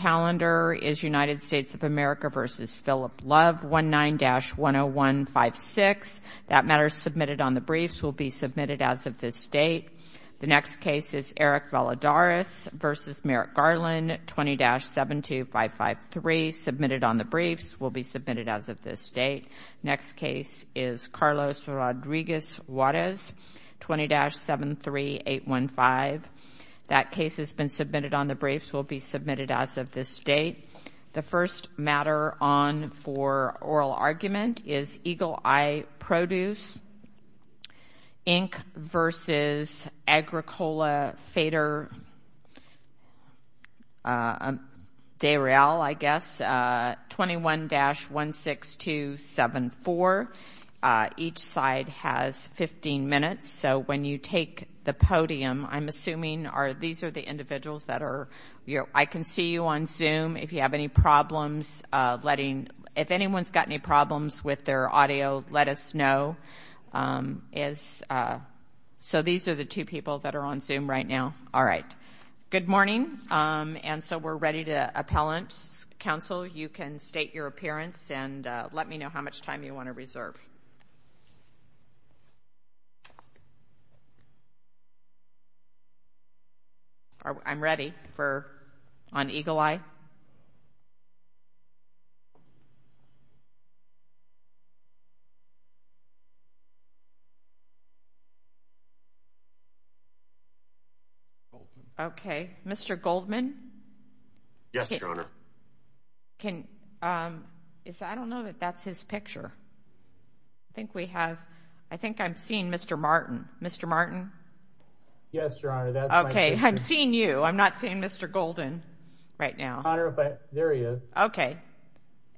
United States of America v. Philip Love, 19-10156. That matter is submitted on the briefs, will be submitted as of this date. The next case is Eric Valadares v. Merrick Garland, 20-72553, submitted on the briefs, will be submitted as of this date. Next case is Carlos Rodriguez Juarez, 20-73815. That case has been submitted on the briefs, will be submitted as of this date. The first matter on for oral argument is Eagle Eye Produce, Inc. v. Agricola Faader SPR de RL, I guess, 21-16274. Each side has 15 minutes, so when you take the podium, I'm assuming these are the individuals that are, I can see you on Zoom. If you have any problems letting, if anyone's got any problems with their audio, let us know. So these are the Good morning. And so we're ready to appellant. Counsel, you can state your appearance and let me how much time you want to reserve. I'm ready for, on Eagle Eye. Okay. Mr. Goldman? Yes, picture. I think we have, I think I'm seeing Mr. Martin. Mr. Martin? Yes, Your Honor. Okay, I'm seeing you. I'm not seeing Mr. Golden right now. There he is. Okay.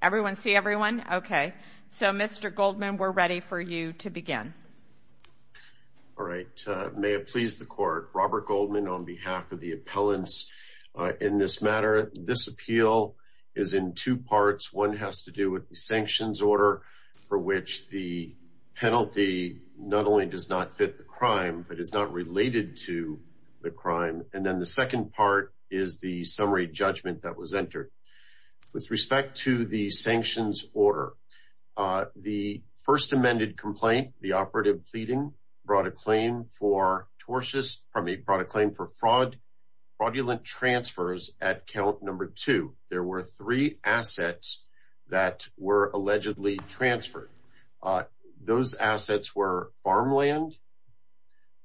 Everyone see everyone? Okay. So Mr. Goldman, we're ready for you to begin. All right. May it please the court. Robert Goldman on behalf of the appellants in this matter. This appeal is in two parts. One has to do with sanctions order for which the penalty not only does not fit the crime, but it's not related to the crime. And then the second part is the summary judgment that was entered with respect to the sanctions order. The first amended complaint, the operative pleading brought a claim for tortious from a product claim for fraud, fraudulent transfers at count number two. There were three assets that were allegedly transferred. Uh, those assets were farmland.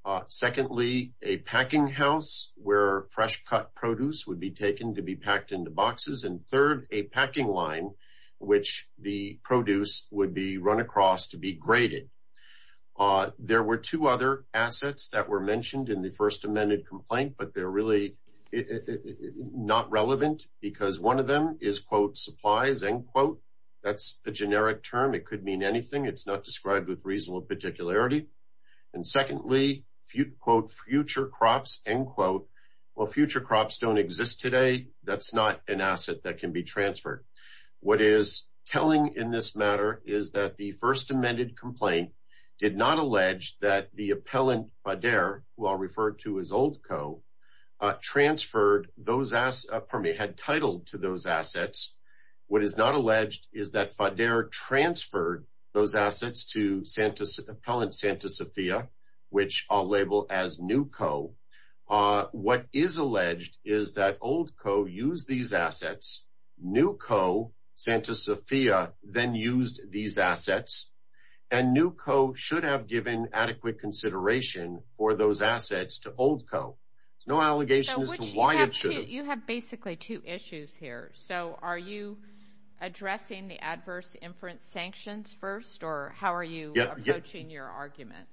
Uh, secondly, a packing house where fresh cut produce would be taken to be packed into boxes. And third, a packing line, which the produce would be run across to be graded. Uh, there were two other assets that were mentioned in the first amended complaint, but they're really it not relevant because one of them is quote supplies and quote, that's a generic term. It could mean anything. It's not described with reasonable particularity. And secondly, few quote future crops and quote, well, future crops don't exist today. That's not an asset that can be transferred. What is telling in this matter is that the first amended complaint did not allege that the appellant Fader, who are referred to as old co transferred those ass permit had titled to those assets. What is not alleged is that Fader transferred those assets to Santa's appellant, Santa Sophia, which I'll label as new co uh, what is alleged is that old co use these assets. New co Santa Sophia then used these assets and new co should have given adequate consideration for those assets to old co no allegations to why it should have basically two issues here. So are you addressing the adverse inference sanctions first? Or how are you approaching your argument?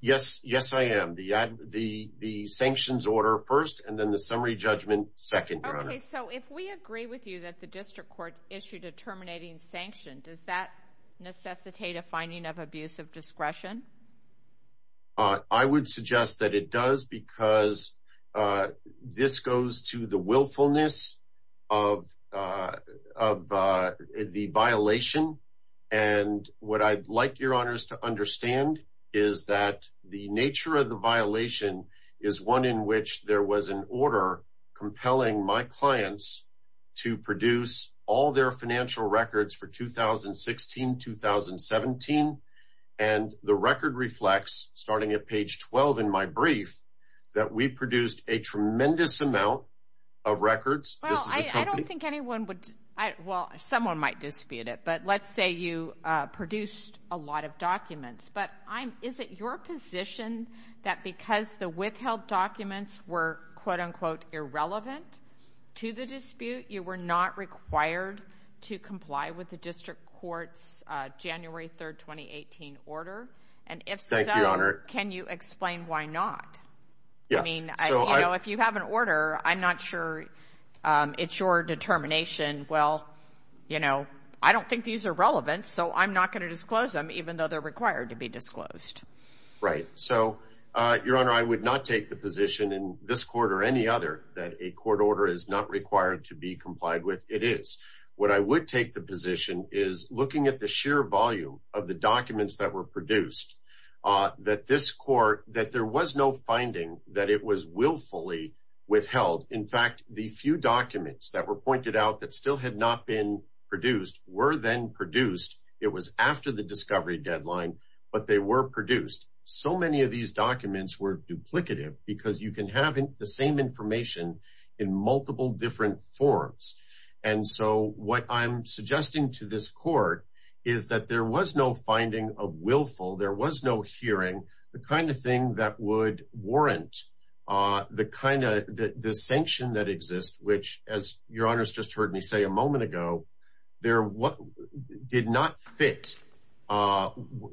Yes. Yes, I am. The, the, the sanctions order first and then the summary judgment second. Okay, so if we agree with you that the district court issued a terminating sanction, does that necessitate a finding of abusive discretion? Uh, I would suggest that it does because, uh, this goes to the willfulness of, uh, of, uh, the violation. And what I'd like your honors to understand is that the nature of the violation is one in which there was an order compelling my clients to produce all their financial records for 2016, 2017. And the record reflects starting at page 12 in my brief that we produced a tremendous amount of records. Well, I don't think anyone would, well, someone might dispute it, but let's say you produced a lot of documents, but I'm, is it your position that because the withheld documents were quote relevant to the dispute, you were not required to comply with the district courts, uh, January 3rd, 2018 order. And if so, can you explain why not? I mean, you know, if you have an order, I'm not sure, um, it's your determination. Well, you know, I don't think these are relevant, so I'm not going to disclose them even though they're required to be disclosed. Right. So, uh, your honor, I would not take the position in this court or any other that a court order is not required to be complied with. It is what I would take the position is looking at the sheer volume of the documents that were produced, uh, that this court, that there was no finding that it was willfully withheld. In fact, the few documents that were pointed out that still had not been produced were then produced. It was after the discovery deadline, but they were produced. So many of these documents were duplicative because you can have the same information in multiple different forms. And so what I'm suggesting to this court is that there was no finding of willful. There was no hearing the kind of thing that would warrant, uh, the kind of the, the sanction that exists, which as your honors just heard me say a moment ago, there, what did not fit, uh,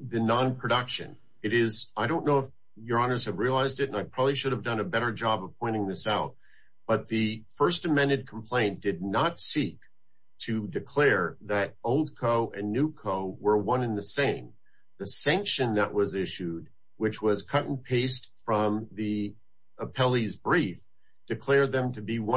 the non-production it is. I don't know if your honors have realized it, and I probably should have done a better job of pointing this out, but the first amended complaint did not seek to declare that old co and new co were one in the same, the sanction that was be one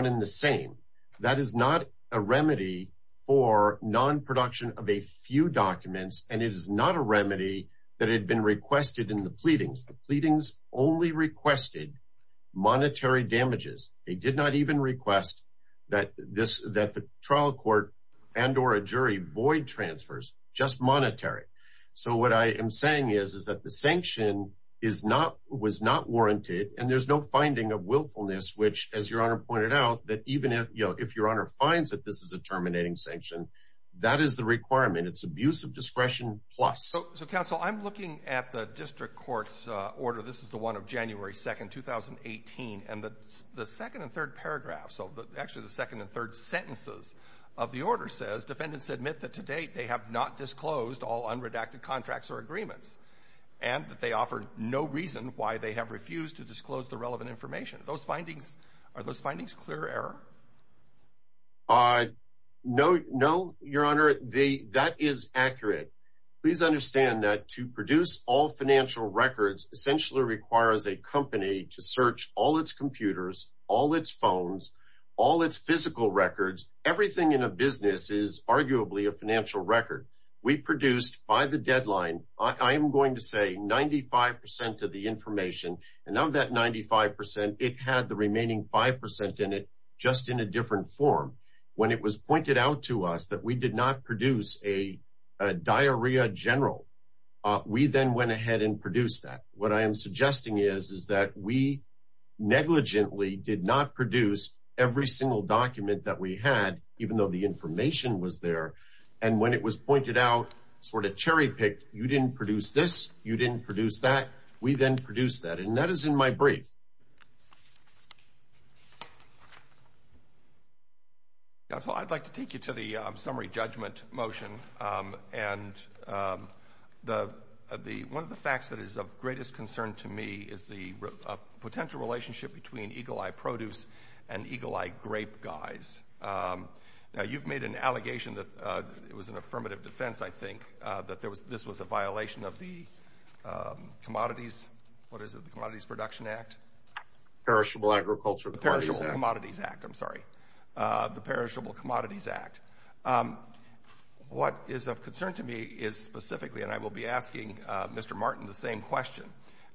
in the same. That is not a remedy for non-production of a few documents. And it is not a remedy that had been requested in the pleadings. The pleadings only requested monetary damages. They did not even request that this, that the trial court and, or a jury void transfers just monetary. So what I am saying is, is that the sanction is not, was not warranted and there's no finding of willfulness, which as your honor pointed out, that even if, you know, if your honor finds that this is a terminating sanction, that is the requirement. It's abuse of discretion plus. So, so counsel, I'm looking at the district court's, uh, order. This is the one of January 2nd, 2018. And the, the second and third paragraph. So the actually the second and third sentences of the order says defendants admit that to date they have not disclosed all unredacted contracts or agreements and that they offer no reason why they have refused to disclose the relevant information. Those findings, are those findings clear error? Uh, no, no, your honor. The, that is accurate. Please understand that to produce all financial records essentially requires a company to search all its computers, all its phones, all its physical records. Everything in a business is going to say 95% of the information. And of that 95%, it had the remaining 5% in it, just in a different form. When it was pointed out to us that we did not produce a, a diarrhea general, uh, we then went ahead and produced that. What I am suggesting is, is that we negligently did not produce every single document that we had, even though the information was there. And when it was pointed out, sort of cherry picked, you didn't produce this, you didn't produce that, we then produced that. And that is in my brief. Yeah, so I'd like to take you to the summary judgment motion. Um, and, um, the, the, one of the facts that is of greatest concern to me is the, uh, potential relationship between guys. Um, now you've made an allegation that, uh, it was an affirmative defense, I think, uh, that there was, this was a violation of the, um, Commodities, what is it, the Commodities Production Act? Perishable Agriculture. The Perishable Commodities Act, I'm sorry. Uh, the Perishable Commodities Act. Um, what is of concern to me is specifically, and I will be asking, uh, Mr. Martin the same question,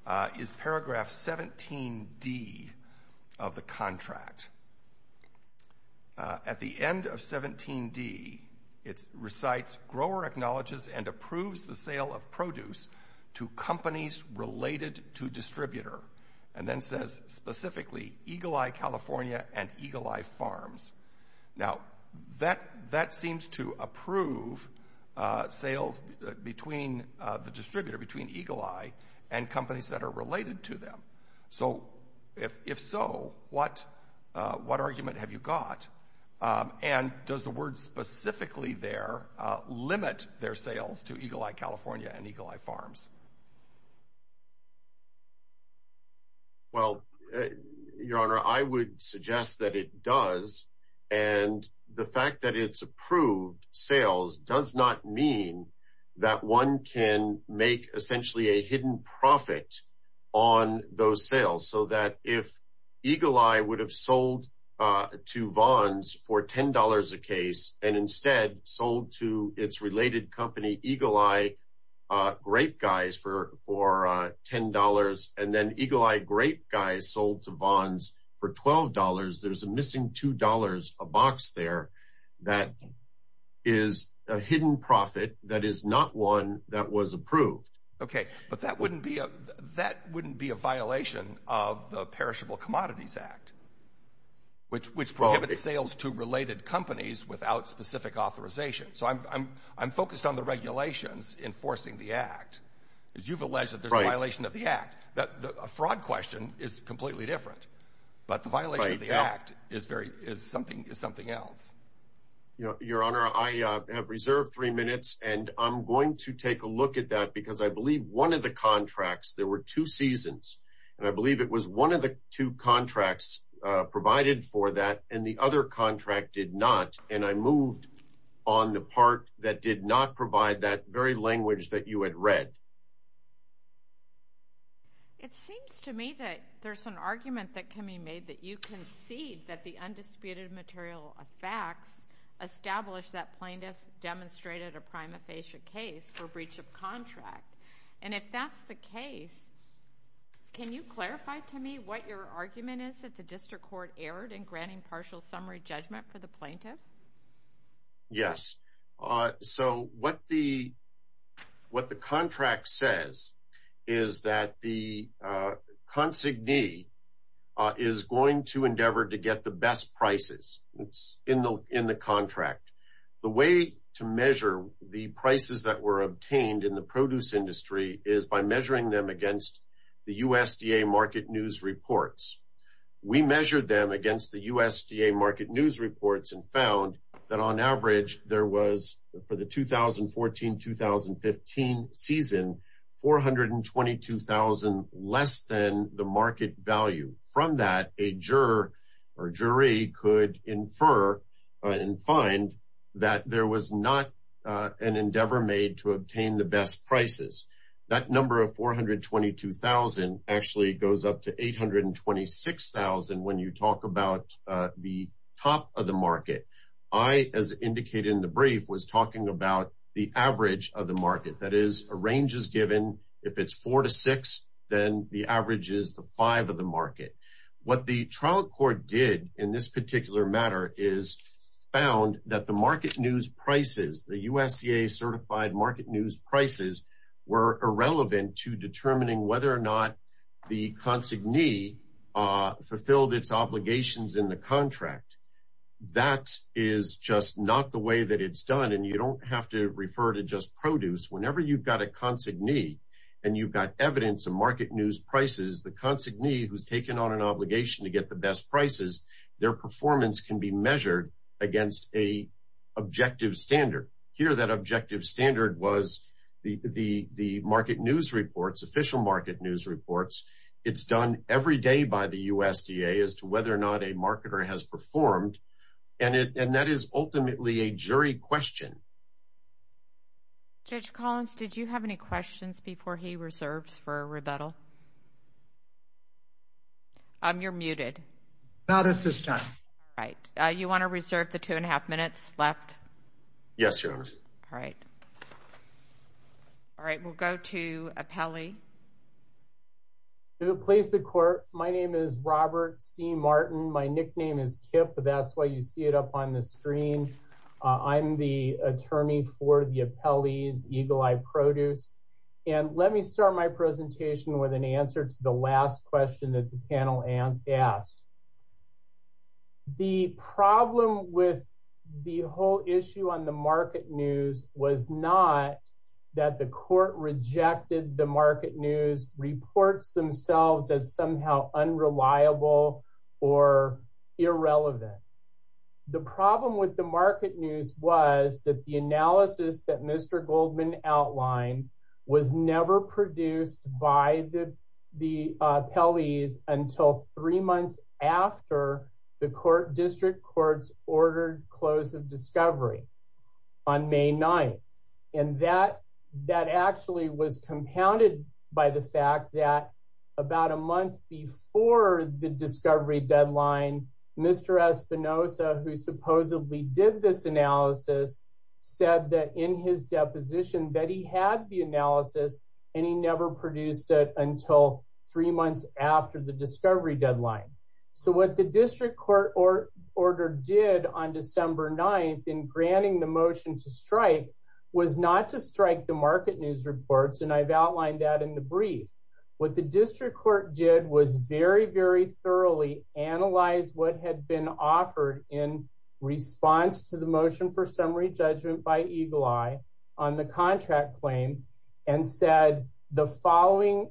uh, is paragraph 17D of the contract. Uh, at the end of 17D, it recites, grower acknowledges and approves the sale of produce to companies related to distributor. And then says specifically, Eagle Eye California and Eagle Eye Farms. Now, that, that seems to to them. So if, if so, what, uh, what argument have you got? Um, and does the word specifically there, uh, limit their sales to Eagle Eye California and Eagle Eye Farms? Well, uh, your Honor, I would suggest that it does. And the fact that it's approved sales does not mean that one can make essentially a hidden profit on those sales. So that if Eagle Eye would have sold, uh, to Vons for $10 a case and instead sold to its related company, Eagle Eye, uh, Grape Guys for, for, uh, $10 and then Eagle Eye Grape Guys sold to Vons for $12. There's a missing $2, a box there that is a hidden profit. That is not one that was approved. Okay. But that wouldn't be a, that wouldn't be a violation of the perishable commodities act, which, which prohibits sales to related companies without specific authorization. So I'm, I'm, I'm focused on the regulations enforcing the act is you've alleged that there's a violation of the act that the fraud question is completely different, but the violation of the act is very, is something, is something else. You know, your Honor, I, uh, have reserved three minutes and I'm going to take a look at that because I believe one of the contracts, there were two seasons and I believe it was one of the two contracts, uh, provided for that. And the other contract did not. And I moved on the part that did not provide that very language that you had read. It seems to me that there's an argument that can be made that you concede that the undisputed material of facts established that plaintiff demonstrated a prima facie case for breach of contract. And if that's the case, can you clarify to me what your argument is that the district court erred in granting partial summary judgment for the plaintiff? Yes. Uh, so what the, what the contract says is that the, uh, consignee, uh, is going to endeavor to get the best prices in the, in the contract. The way to measure the prices that were obtained in the produce industry is by measuring them against the USDA market news reports. We measured them against the USDA market news reports and found that on average there was for the 2014, 2015 season, 422,000 less than the market value from that a juror or jury could infer and find that there was not, uh, an endeavor made to obtain the best prices. That number of 422,000 actually goes up to 826,000. When you talk about, uh, the top of the the average of the market that is a range is given if it's four to six, then the average is the five of the market. What the trial court did in this particular matter is found that the market news prices, the USDA certified market news prices were irrelevant to determining whether or not the consignee, uh, fulfilled its obligations in the contract. That is just not the way that it's done. And you don't have to refer to just produce whenever you've got a consignee and you've got evidence of market news prices, the consignee who's taken on an obligation to get the best prices, their performance can be measured against a objective standard here. That objective standard was the, the, the market news reports, official market news reports. It's done every day by the USDA as to whether or not a marketer has performed. And it, and that is ultimately a jury question. Judge Collins, did you have any questions before he reserves for rebuttal? Um, you're muted. Not at this time. Right. Uh, you want to reserve the two and a half minutes left? Yes, your honor. All right. All right. We'll go to Appelli. To the place, the court. My name is Robert C. Martin. My nickname is Kip, but that's why you see it up on the screen. Uh, I'm the attorney for the Appelli's Eagle Eye Produce. And let me start my presentation with an answer to the last question that the panel asked. The problem with the whole issue on the market news was not that the court rejected the market news reports themselves as somehow unreliable or irrelevant. The problem with the market news was that the analysis that Mr. Goldman outlined was never produced by the, the Appelli's until three months after the court district courts ordered close of discovery on May 9th. And that, that actually was compounded by the fact that about a month before the discovery deadline, Mr. Espinosa, who supposedly did this analysis said that in his deposition that he had the analysis and he never produced it until three months after the discovery deadline. So what the district court or order did on December 9th in granting the motion to strike was not to strike the market news reports. And I've outlined that in the brief. What the district court did was very, very thoroughly analyze what had been offered in response to the motion for summary judgment by Eagle Eye on the contract claim and said the following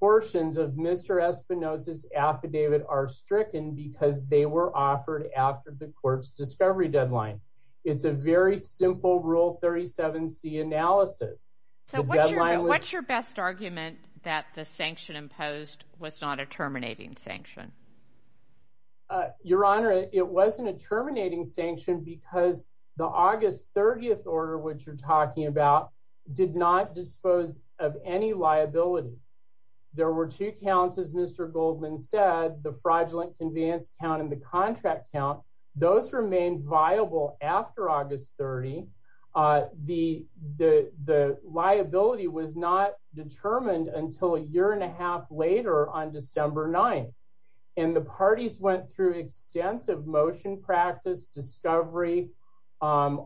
portions of Mr. Espinosa's affidavit are stricken because they were offered after the court's discovery deadline. It's a very simple rule 37c analysis. So what's your best argument that the sanction imposed was not a terminating sanction? Your Honor, it wasn't a terminating sanction because the August 30th order which you're talking about did not dispose of any liability. There were two counts as Mr. Goldman said, the fraudulent conveyance count and the contract count. Those remained viable after August 30. The liability was not determined until a year and a half later on December 9th. And the parties went through extensive motion practice, discovery,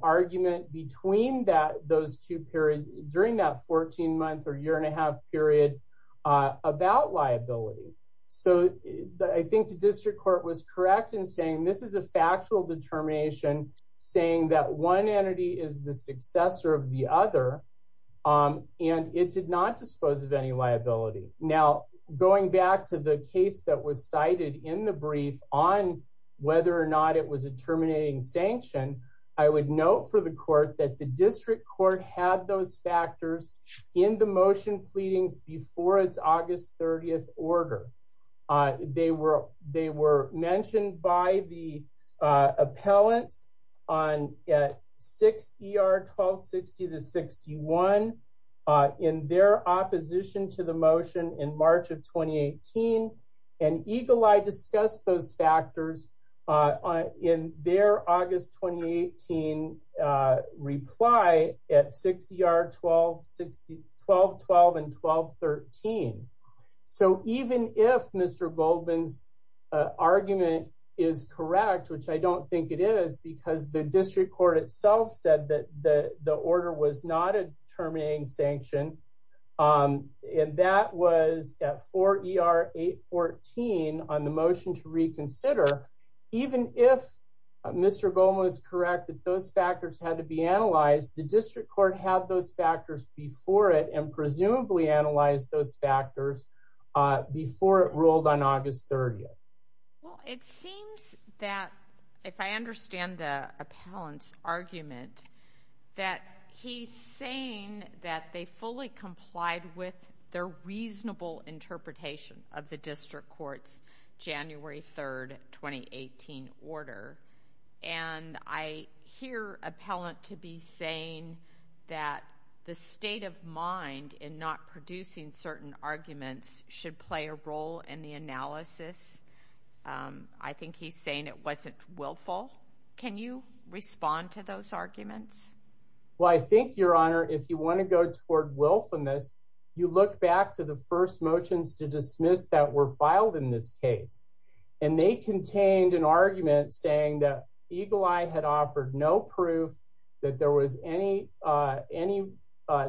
argument between those two periods during that I think the district court was correct in saying this is a factual determination saying that one entity is the successor of the other and it did not dispose of any liability. Now going back to the case that was cited in the brief on whether or not it was a terminating sanction, I would note for the court that the district court had those factors in the motion pleadings before its August 30th order. They were mentioned by the appellants at 6 ER 1260-61 in their opposition to the motion in March of 2018. And EGLEI discussed those factors on in their August 2018 reply at 6 ER 1260 1212 and 1213. So even if Mr. Goldman's argument is correct, which I don't think it is because the district court itself said that the order was not terminating sanction, and that was at 4 ER 814 on the motion to reconsider, even if Mr. Goldman was correct that those factors had to be analyzed, the district court had those factors before it and presumably analyzed those factors before it rolled on August 30th. Well, it seems that if I that they fully complied with their reasonable interpretation of the district court's January 3rd 2018 order. And I hear appellant to be saying that the state of mind in not producing certain arguments should play a role in the analysis. I think he's saying it wasn't willful. Can you want to go toward willfulness? You look back to the first motions to dismiss that were filed in this case, and they contained an argument saying that EGLEI had offered no proof that there was any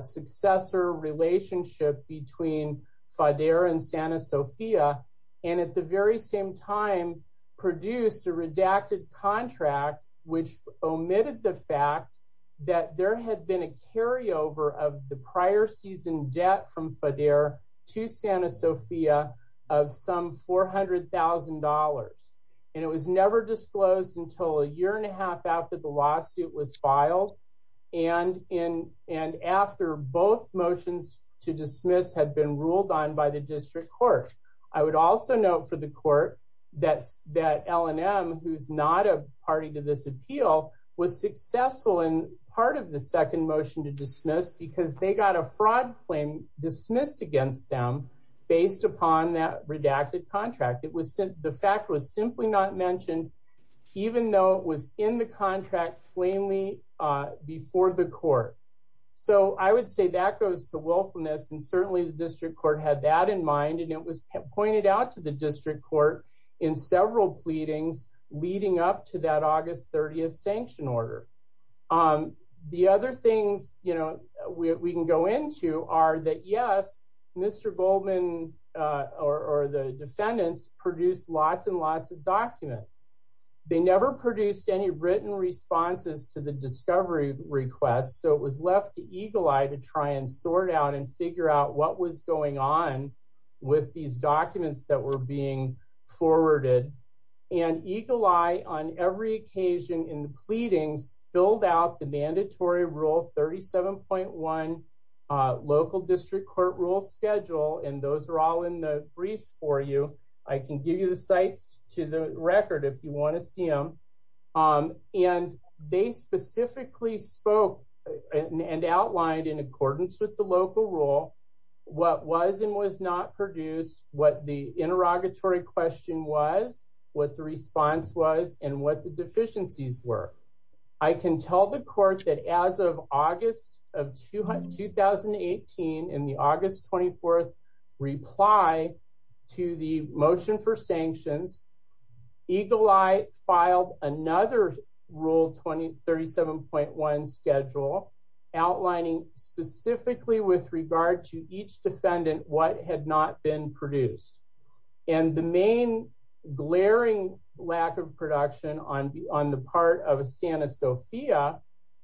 successor relationship between FIDERA and Santa Sofia, and at the very same time produced a redacted contract which omitted the fact that there had been a carryover of the prior season debt from FIDERA to Santa Sofia of some $400,000. And it was never disclosed until a year and a half after the lawsuit was filed and in and after both motions to dismiss had been ruled on by the who's not a party to this appeal was successful in part of the second motion to dismiss because they got a fraud claim dismissed against them based upon that redacted contract. It was the fact was simply not mentioned even though it was in the contract plainly before the court. So I would say that goes to willfulness, and certainly the district court had that in mind, and it was pointed out to the district court in several pleadings leading up to that August 30 sanction order. The other things we can go into are that yes, Mr. Goldman or the defendants produced lots and lots of documents. They never produced any written responses to the discovery request, so it was left to EGLEI to try and sort out and figure out what was going on with these documents that were being forwarded. And EGLEI on every occasion in the pleadings filled out the mandatory rule 37.1 local district court rule schedule, and those are all in the briefs for you. I can give you the sites to the record if you want to see them. And they produced what the interrogatory question was, what the response was, and what the deficiencies were. I can tell the court that as of August of 2018, in the August 24th reply to the motion for sanctions, EGLEI filed another rule 37.1 schedule outlining specifically with regard to each produced. And the main glaring lack of production on the part of Santa Sophia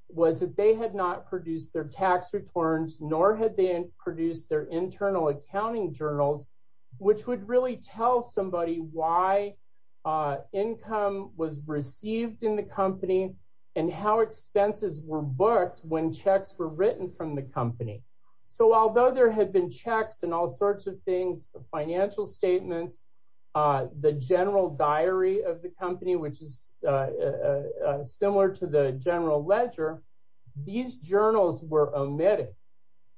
was that they had not produced their tax returns, nor had they produced their internal accounting journals, which would really tell somebody why income was received in the company and how expenses were booked when there had been checks and all sorts of things, financial statements, the general diary of the company, which is similar to the general ledger. These journals were omitted,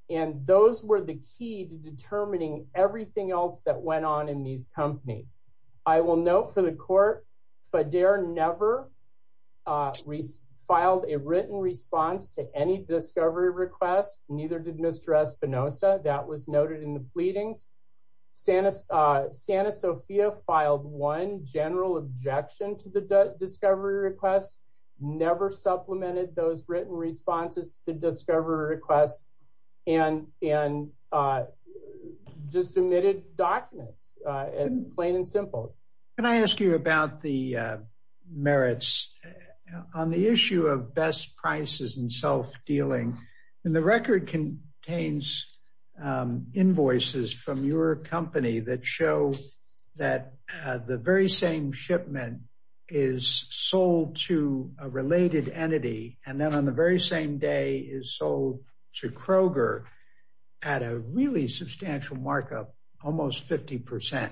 and those were the key to determining everything else that went on in these companies. I will note for the court, FDARE never filed a written response to any discovery request, neither did Mr. Espinosa. That was noted in the pleadings. Santa Sophia filed one general objection to the discovery request, never supplemented those written responses to the discovery request, and just omitted documents, plain and simple. Can I ask you about the merits on the issue of best prices and self-dealing? The record contains invoices from your company that show that the very same shipment is sold to a related entity, and then on the very same day is sold to Kroger at a really substantial markup, almost 50%.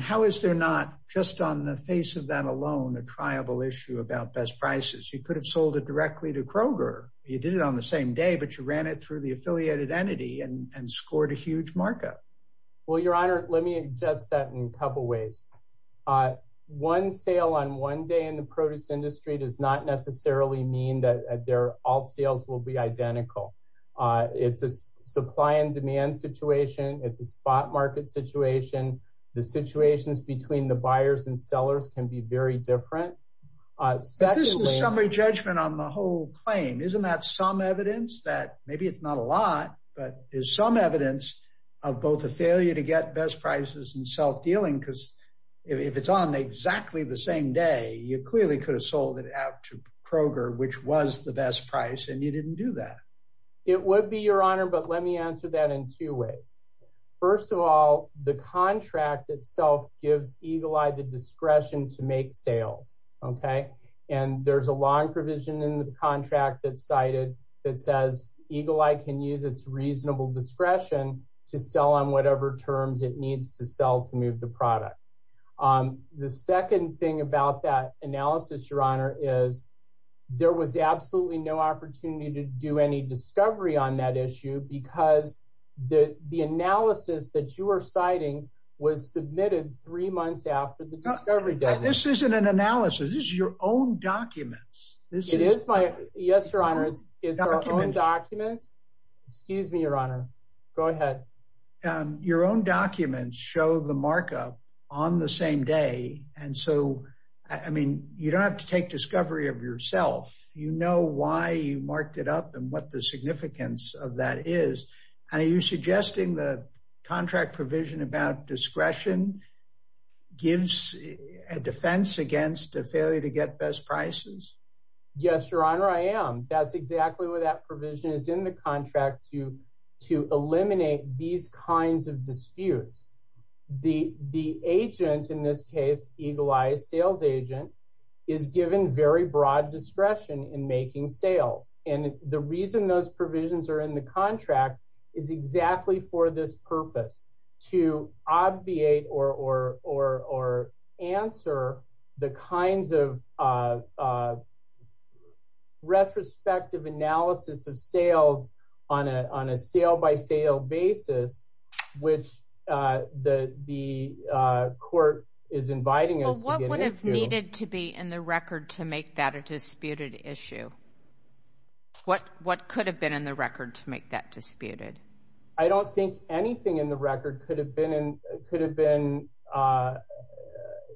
How is there not, just on the face of that alone, a triable issue about best prices? You could have sold it directly to Kroger. You did it on the same day, but you ran it through the affiliated entity and scored a huge markup. Well, Your Honor, let me address that in a couple of ways. One sale on one day in the supply and demand situation, it's a spot market situation. The situations between the buyers and sellers can be very different. This is a summary judgment on the whole claim. Isn't that some evidence that, maybe it's not a lot, but there's some evidence of both a failure to get best prices and self-dealing, because if it's on exactly the same day, you clearly could have sold it out to Kroger. Let me answer that in two ways. First of all, the contract itself gives Eagle Eye the discretion to make sales. There's a long provision in the contract that says Eagle Eye can use its reasonable discretion to sell on whatever terms it needs to sell to move the product. The second thing about that analysis, Your Honor, is there was absolutely no opportunity to do any because the analysis that you were citing was submitted three months after the discovery. This isn't an analysis. This is your own documents. Yes, Your Honor. It's our own documents. Excuse me, Your Honor. Go ahead. Your own documents show the markup on the same day. You don't have to take discovery of yourself. You know why you marked it up and what the significance of that is. Are you suggesting the contract provision about discretion gives a defense against a failure to get best prices? Yes, Your Honor, I am. That's exactly what that provision is in the contract to eliminate these kinds of disputes. The agent, in this case, Eagle Eye's sales agent, is given very broad discretion in making sales. The reason those provisions are in the contract is exactly for this purpose, to obviate or answer the kinds of retrospective analysis of sales on a sale by sale basis, which the court is inviting us to get into. Well, what would have needed to be in the record to make that a disputed issue? What could have been in the record to make that disputed? I don't think anything in the record could have been in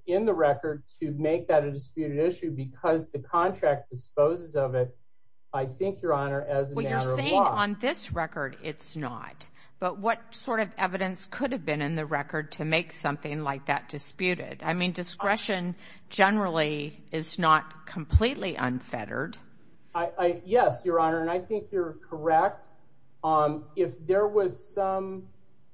the record to make that a disputed issue because the contract disposes of it, I think, Your Honor, as a matter of law. On this record, it's not. But what sort of evidence could have been in the record to make something like that disputed? I mean, discretion generally is not completely unfettered. Yes, Your Honor, and I think you're correct. If there was some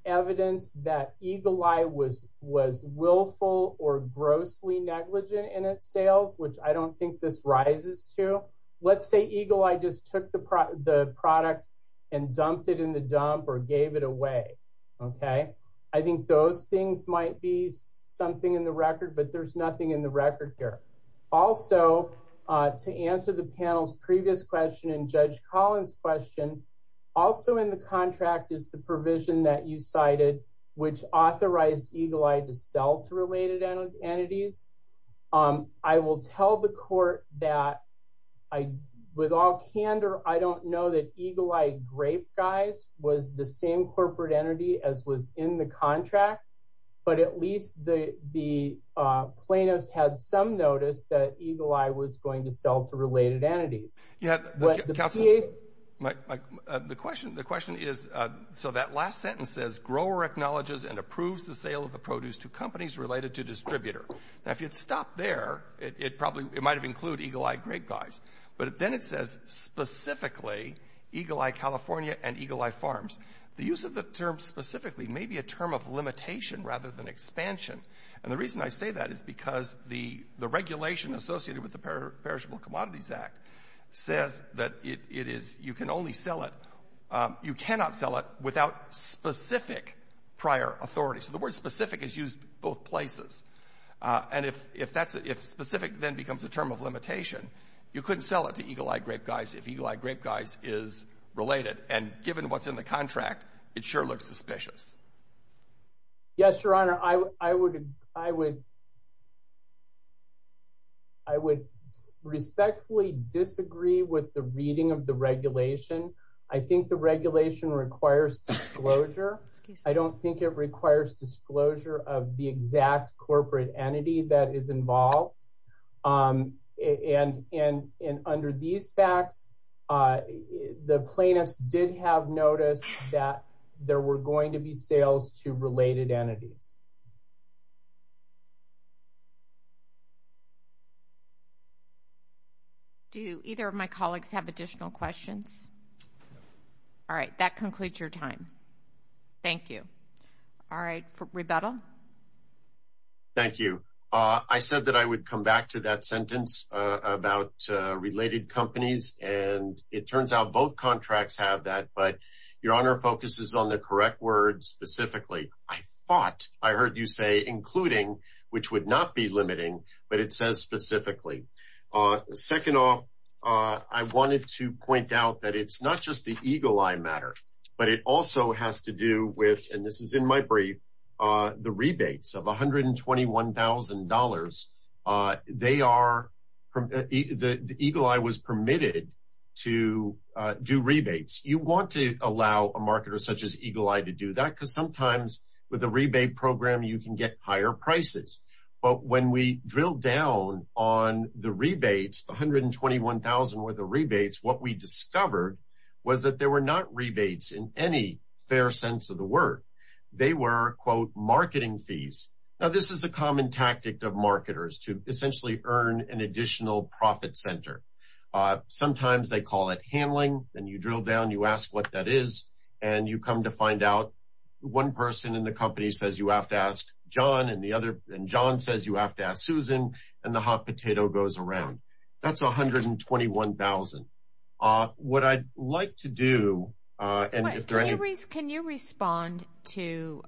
evidence that Eagle Eye was willful or grossly negligent in its sales, which I don't think this rises to, let's say Eagle Eye just took the product and dumped it in the dump or gave it away, okay? I think those things might be something in the record, but there's nothing in the record here. Also, to answer the panel's previous question and Judge Collins' question, also in the contract is the provision that you cited, which authorized Eagle Eye to sell to related entities. I will tell the court that with all candor, I don't know that Eagle Eye Grape Guys was the same corporate entity as was in the contract, but at least the plaintiffs had some notice that Eagle Eye was going to sell to related entities. Yeah, but the question is, so that last sentence says, grower acknowledges and approves the sale of the produce to companies related to distributor. Now, if you'd stop there, it might have included Eagle Eye Grape Guys, but then it says specifically Eagle Eye California and Eagle Eye Farms. The use of the term specifically may be a term of limitation rather than expansion, and the reason I say that is because the regulation associated with the Perishable Commodities Act says that you can only sell it, you cannot sell without specific prior authority. So the word specific is used both places, and if specific then becomes a term of limitation, you couldn't sell it to Eagle Eye Grape Guys if Eagle Eye Grape Guys is related, and given what's in the contract, it sure looks suspicious. Yes, Your Honor, I would respectfully disagree with the reading of the regulation. I think the regulation requires disclosure. I don't think it requires disclosure of the exact corporate entity that is involved, and under these facts, the plaintiffs did have notice that there were going to be sales to related entities. Do either of my colleagues have additional questions? All right, that concludes your time. Thank you. All right, Rebettal? Thank you. I said that I would come back to that sentence about related companies, and it turns out both contracts have that, but Your Honor focuses on the correct words specifically. I thought I heard you say including, which would not be limiting, but it says specifically. Second off, I wanted to point out that it's not just the Eagle Eye matter, but it also has to do with, and this is in my brief, the rebates of $121,000. The Eagle Eye was permitted to do rebates. You want to allow a marketer such as Eagle Eye to do that because sometimes with a rebate program, you can get higher prices, but when we drill down on the rebates, the $121,000 worth of rebates, what we discovered was that there were not rebates in any fair sense of the word. They were, quote, marketing fees. Now, this is a common tactic of marketers to essentially earn an additional profit center. Sometimes they call it handling, and you drill down, you ask what that is, and you come to find out one person in the company says you have to ask John, and John says you have to ask Susan, and the hot potato goes around. That's $121,000. What I'd like to do, and if there are any- Can you respond to,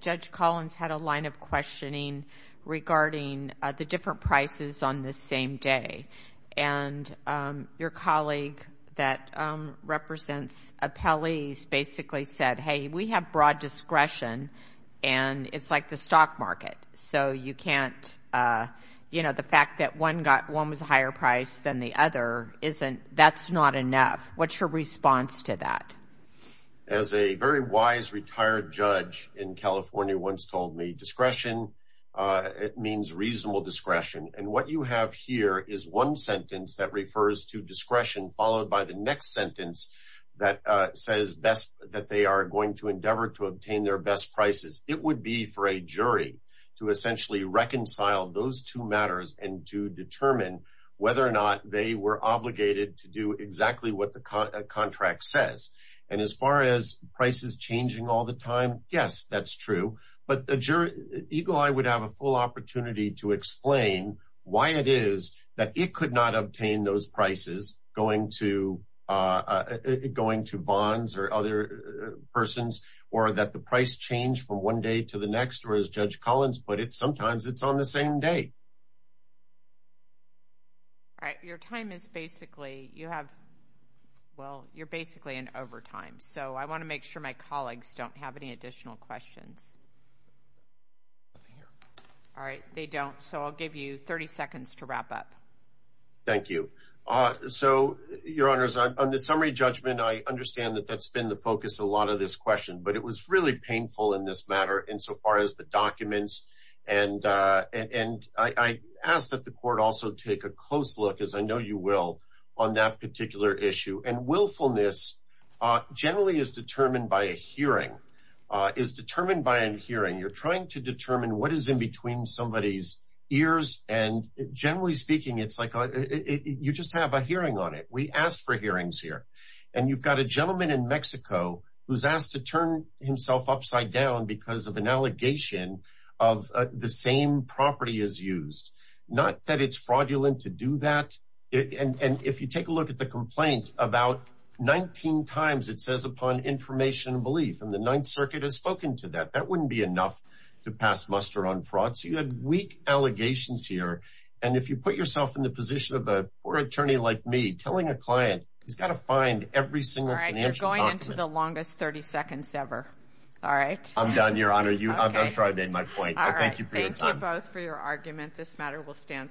Judge Collins had a line of questioning regarding the different prices on the same day, and your colleague that represents appellees basically said, hey, we have broad discretion, and it's like the stock market. The fact that one was a higher price than the other, that's not enough. What's your response to that? As a very wise retired judge in California once told me, discretion, it means reasonable discretion, and what you have here is one sentence that refers to discretion followed by the next sentence that says that they are going to endeavor to obtain their best prices. It would be for a jury to essentially reconcile those two matters and to determine whether or not they were obligated to do exactly what the contract says, and as far as prices changing all the time, yes, that's true, but a jury, Eagle Eye would have a full opportunity to explain why it is that it could not obtain those prices going to bonds or other persons, or that the price changed from one day to the next, or as Judge Collins put it, sometimes it's on the same day. All right, your time is basically, you have, well, you're basically in overtime, so I want to make sure my colleagues don't have any additional questions. All right, they don't, so I'll give you 30 seconds to wrap up. Thank you. So, your honors, on the summary judgment, I understand that that's been the focus a lot of this question, but it was really painful in this matter insofar as the documents, and I ask that the court also take a close look, as I know you will, on that particular issue, and willfulness generally is determined by a hearing, is determined by a hearing. You're generally speaking, it's like you just have a hearing on it. We asked for hearings here, and you've got a gentleman in Mexico who's asked to turn himself upside down because of an allegation of the same property as used, not that it's fraudulent to do that, and if you take a look at the complaint, about 19 times it says upon information and belief, and the Ninth Circuit has spoken to that. That wouldn't be enough to pass muster on fraud, so you had weak allegations here, and if you put yourself in the position of a poor attorney like me, telling a client, he's got to find every single financial... All right, you're going into the longest 30 seconds ever. All right. I'm done, your honor. I'm sure I made my point. Thank you for your time. Thank you both for your argument. This matter will stand submitted.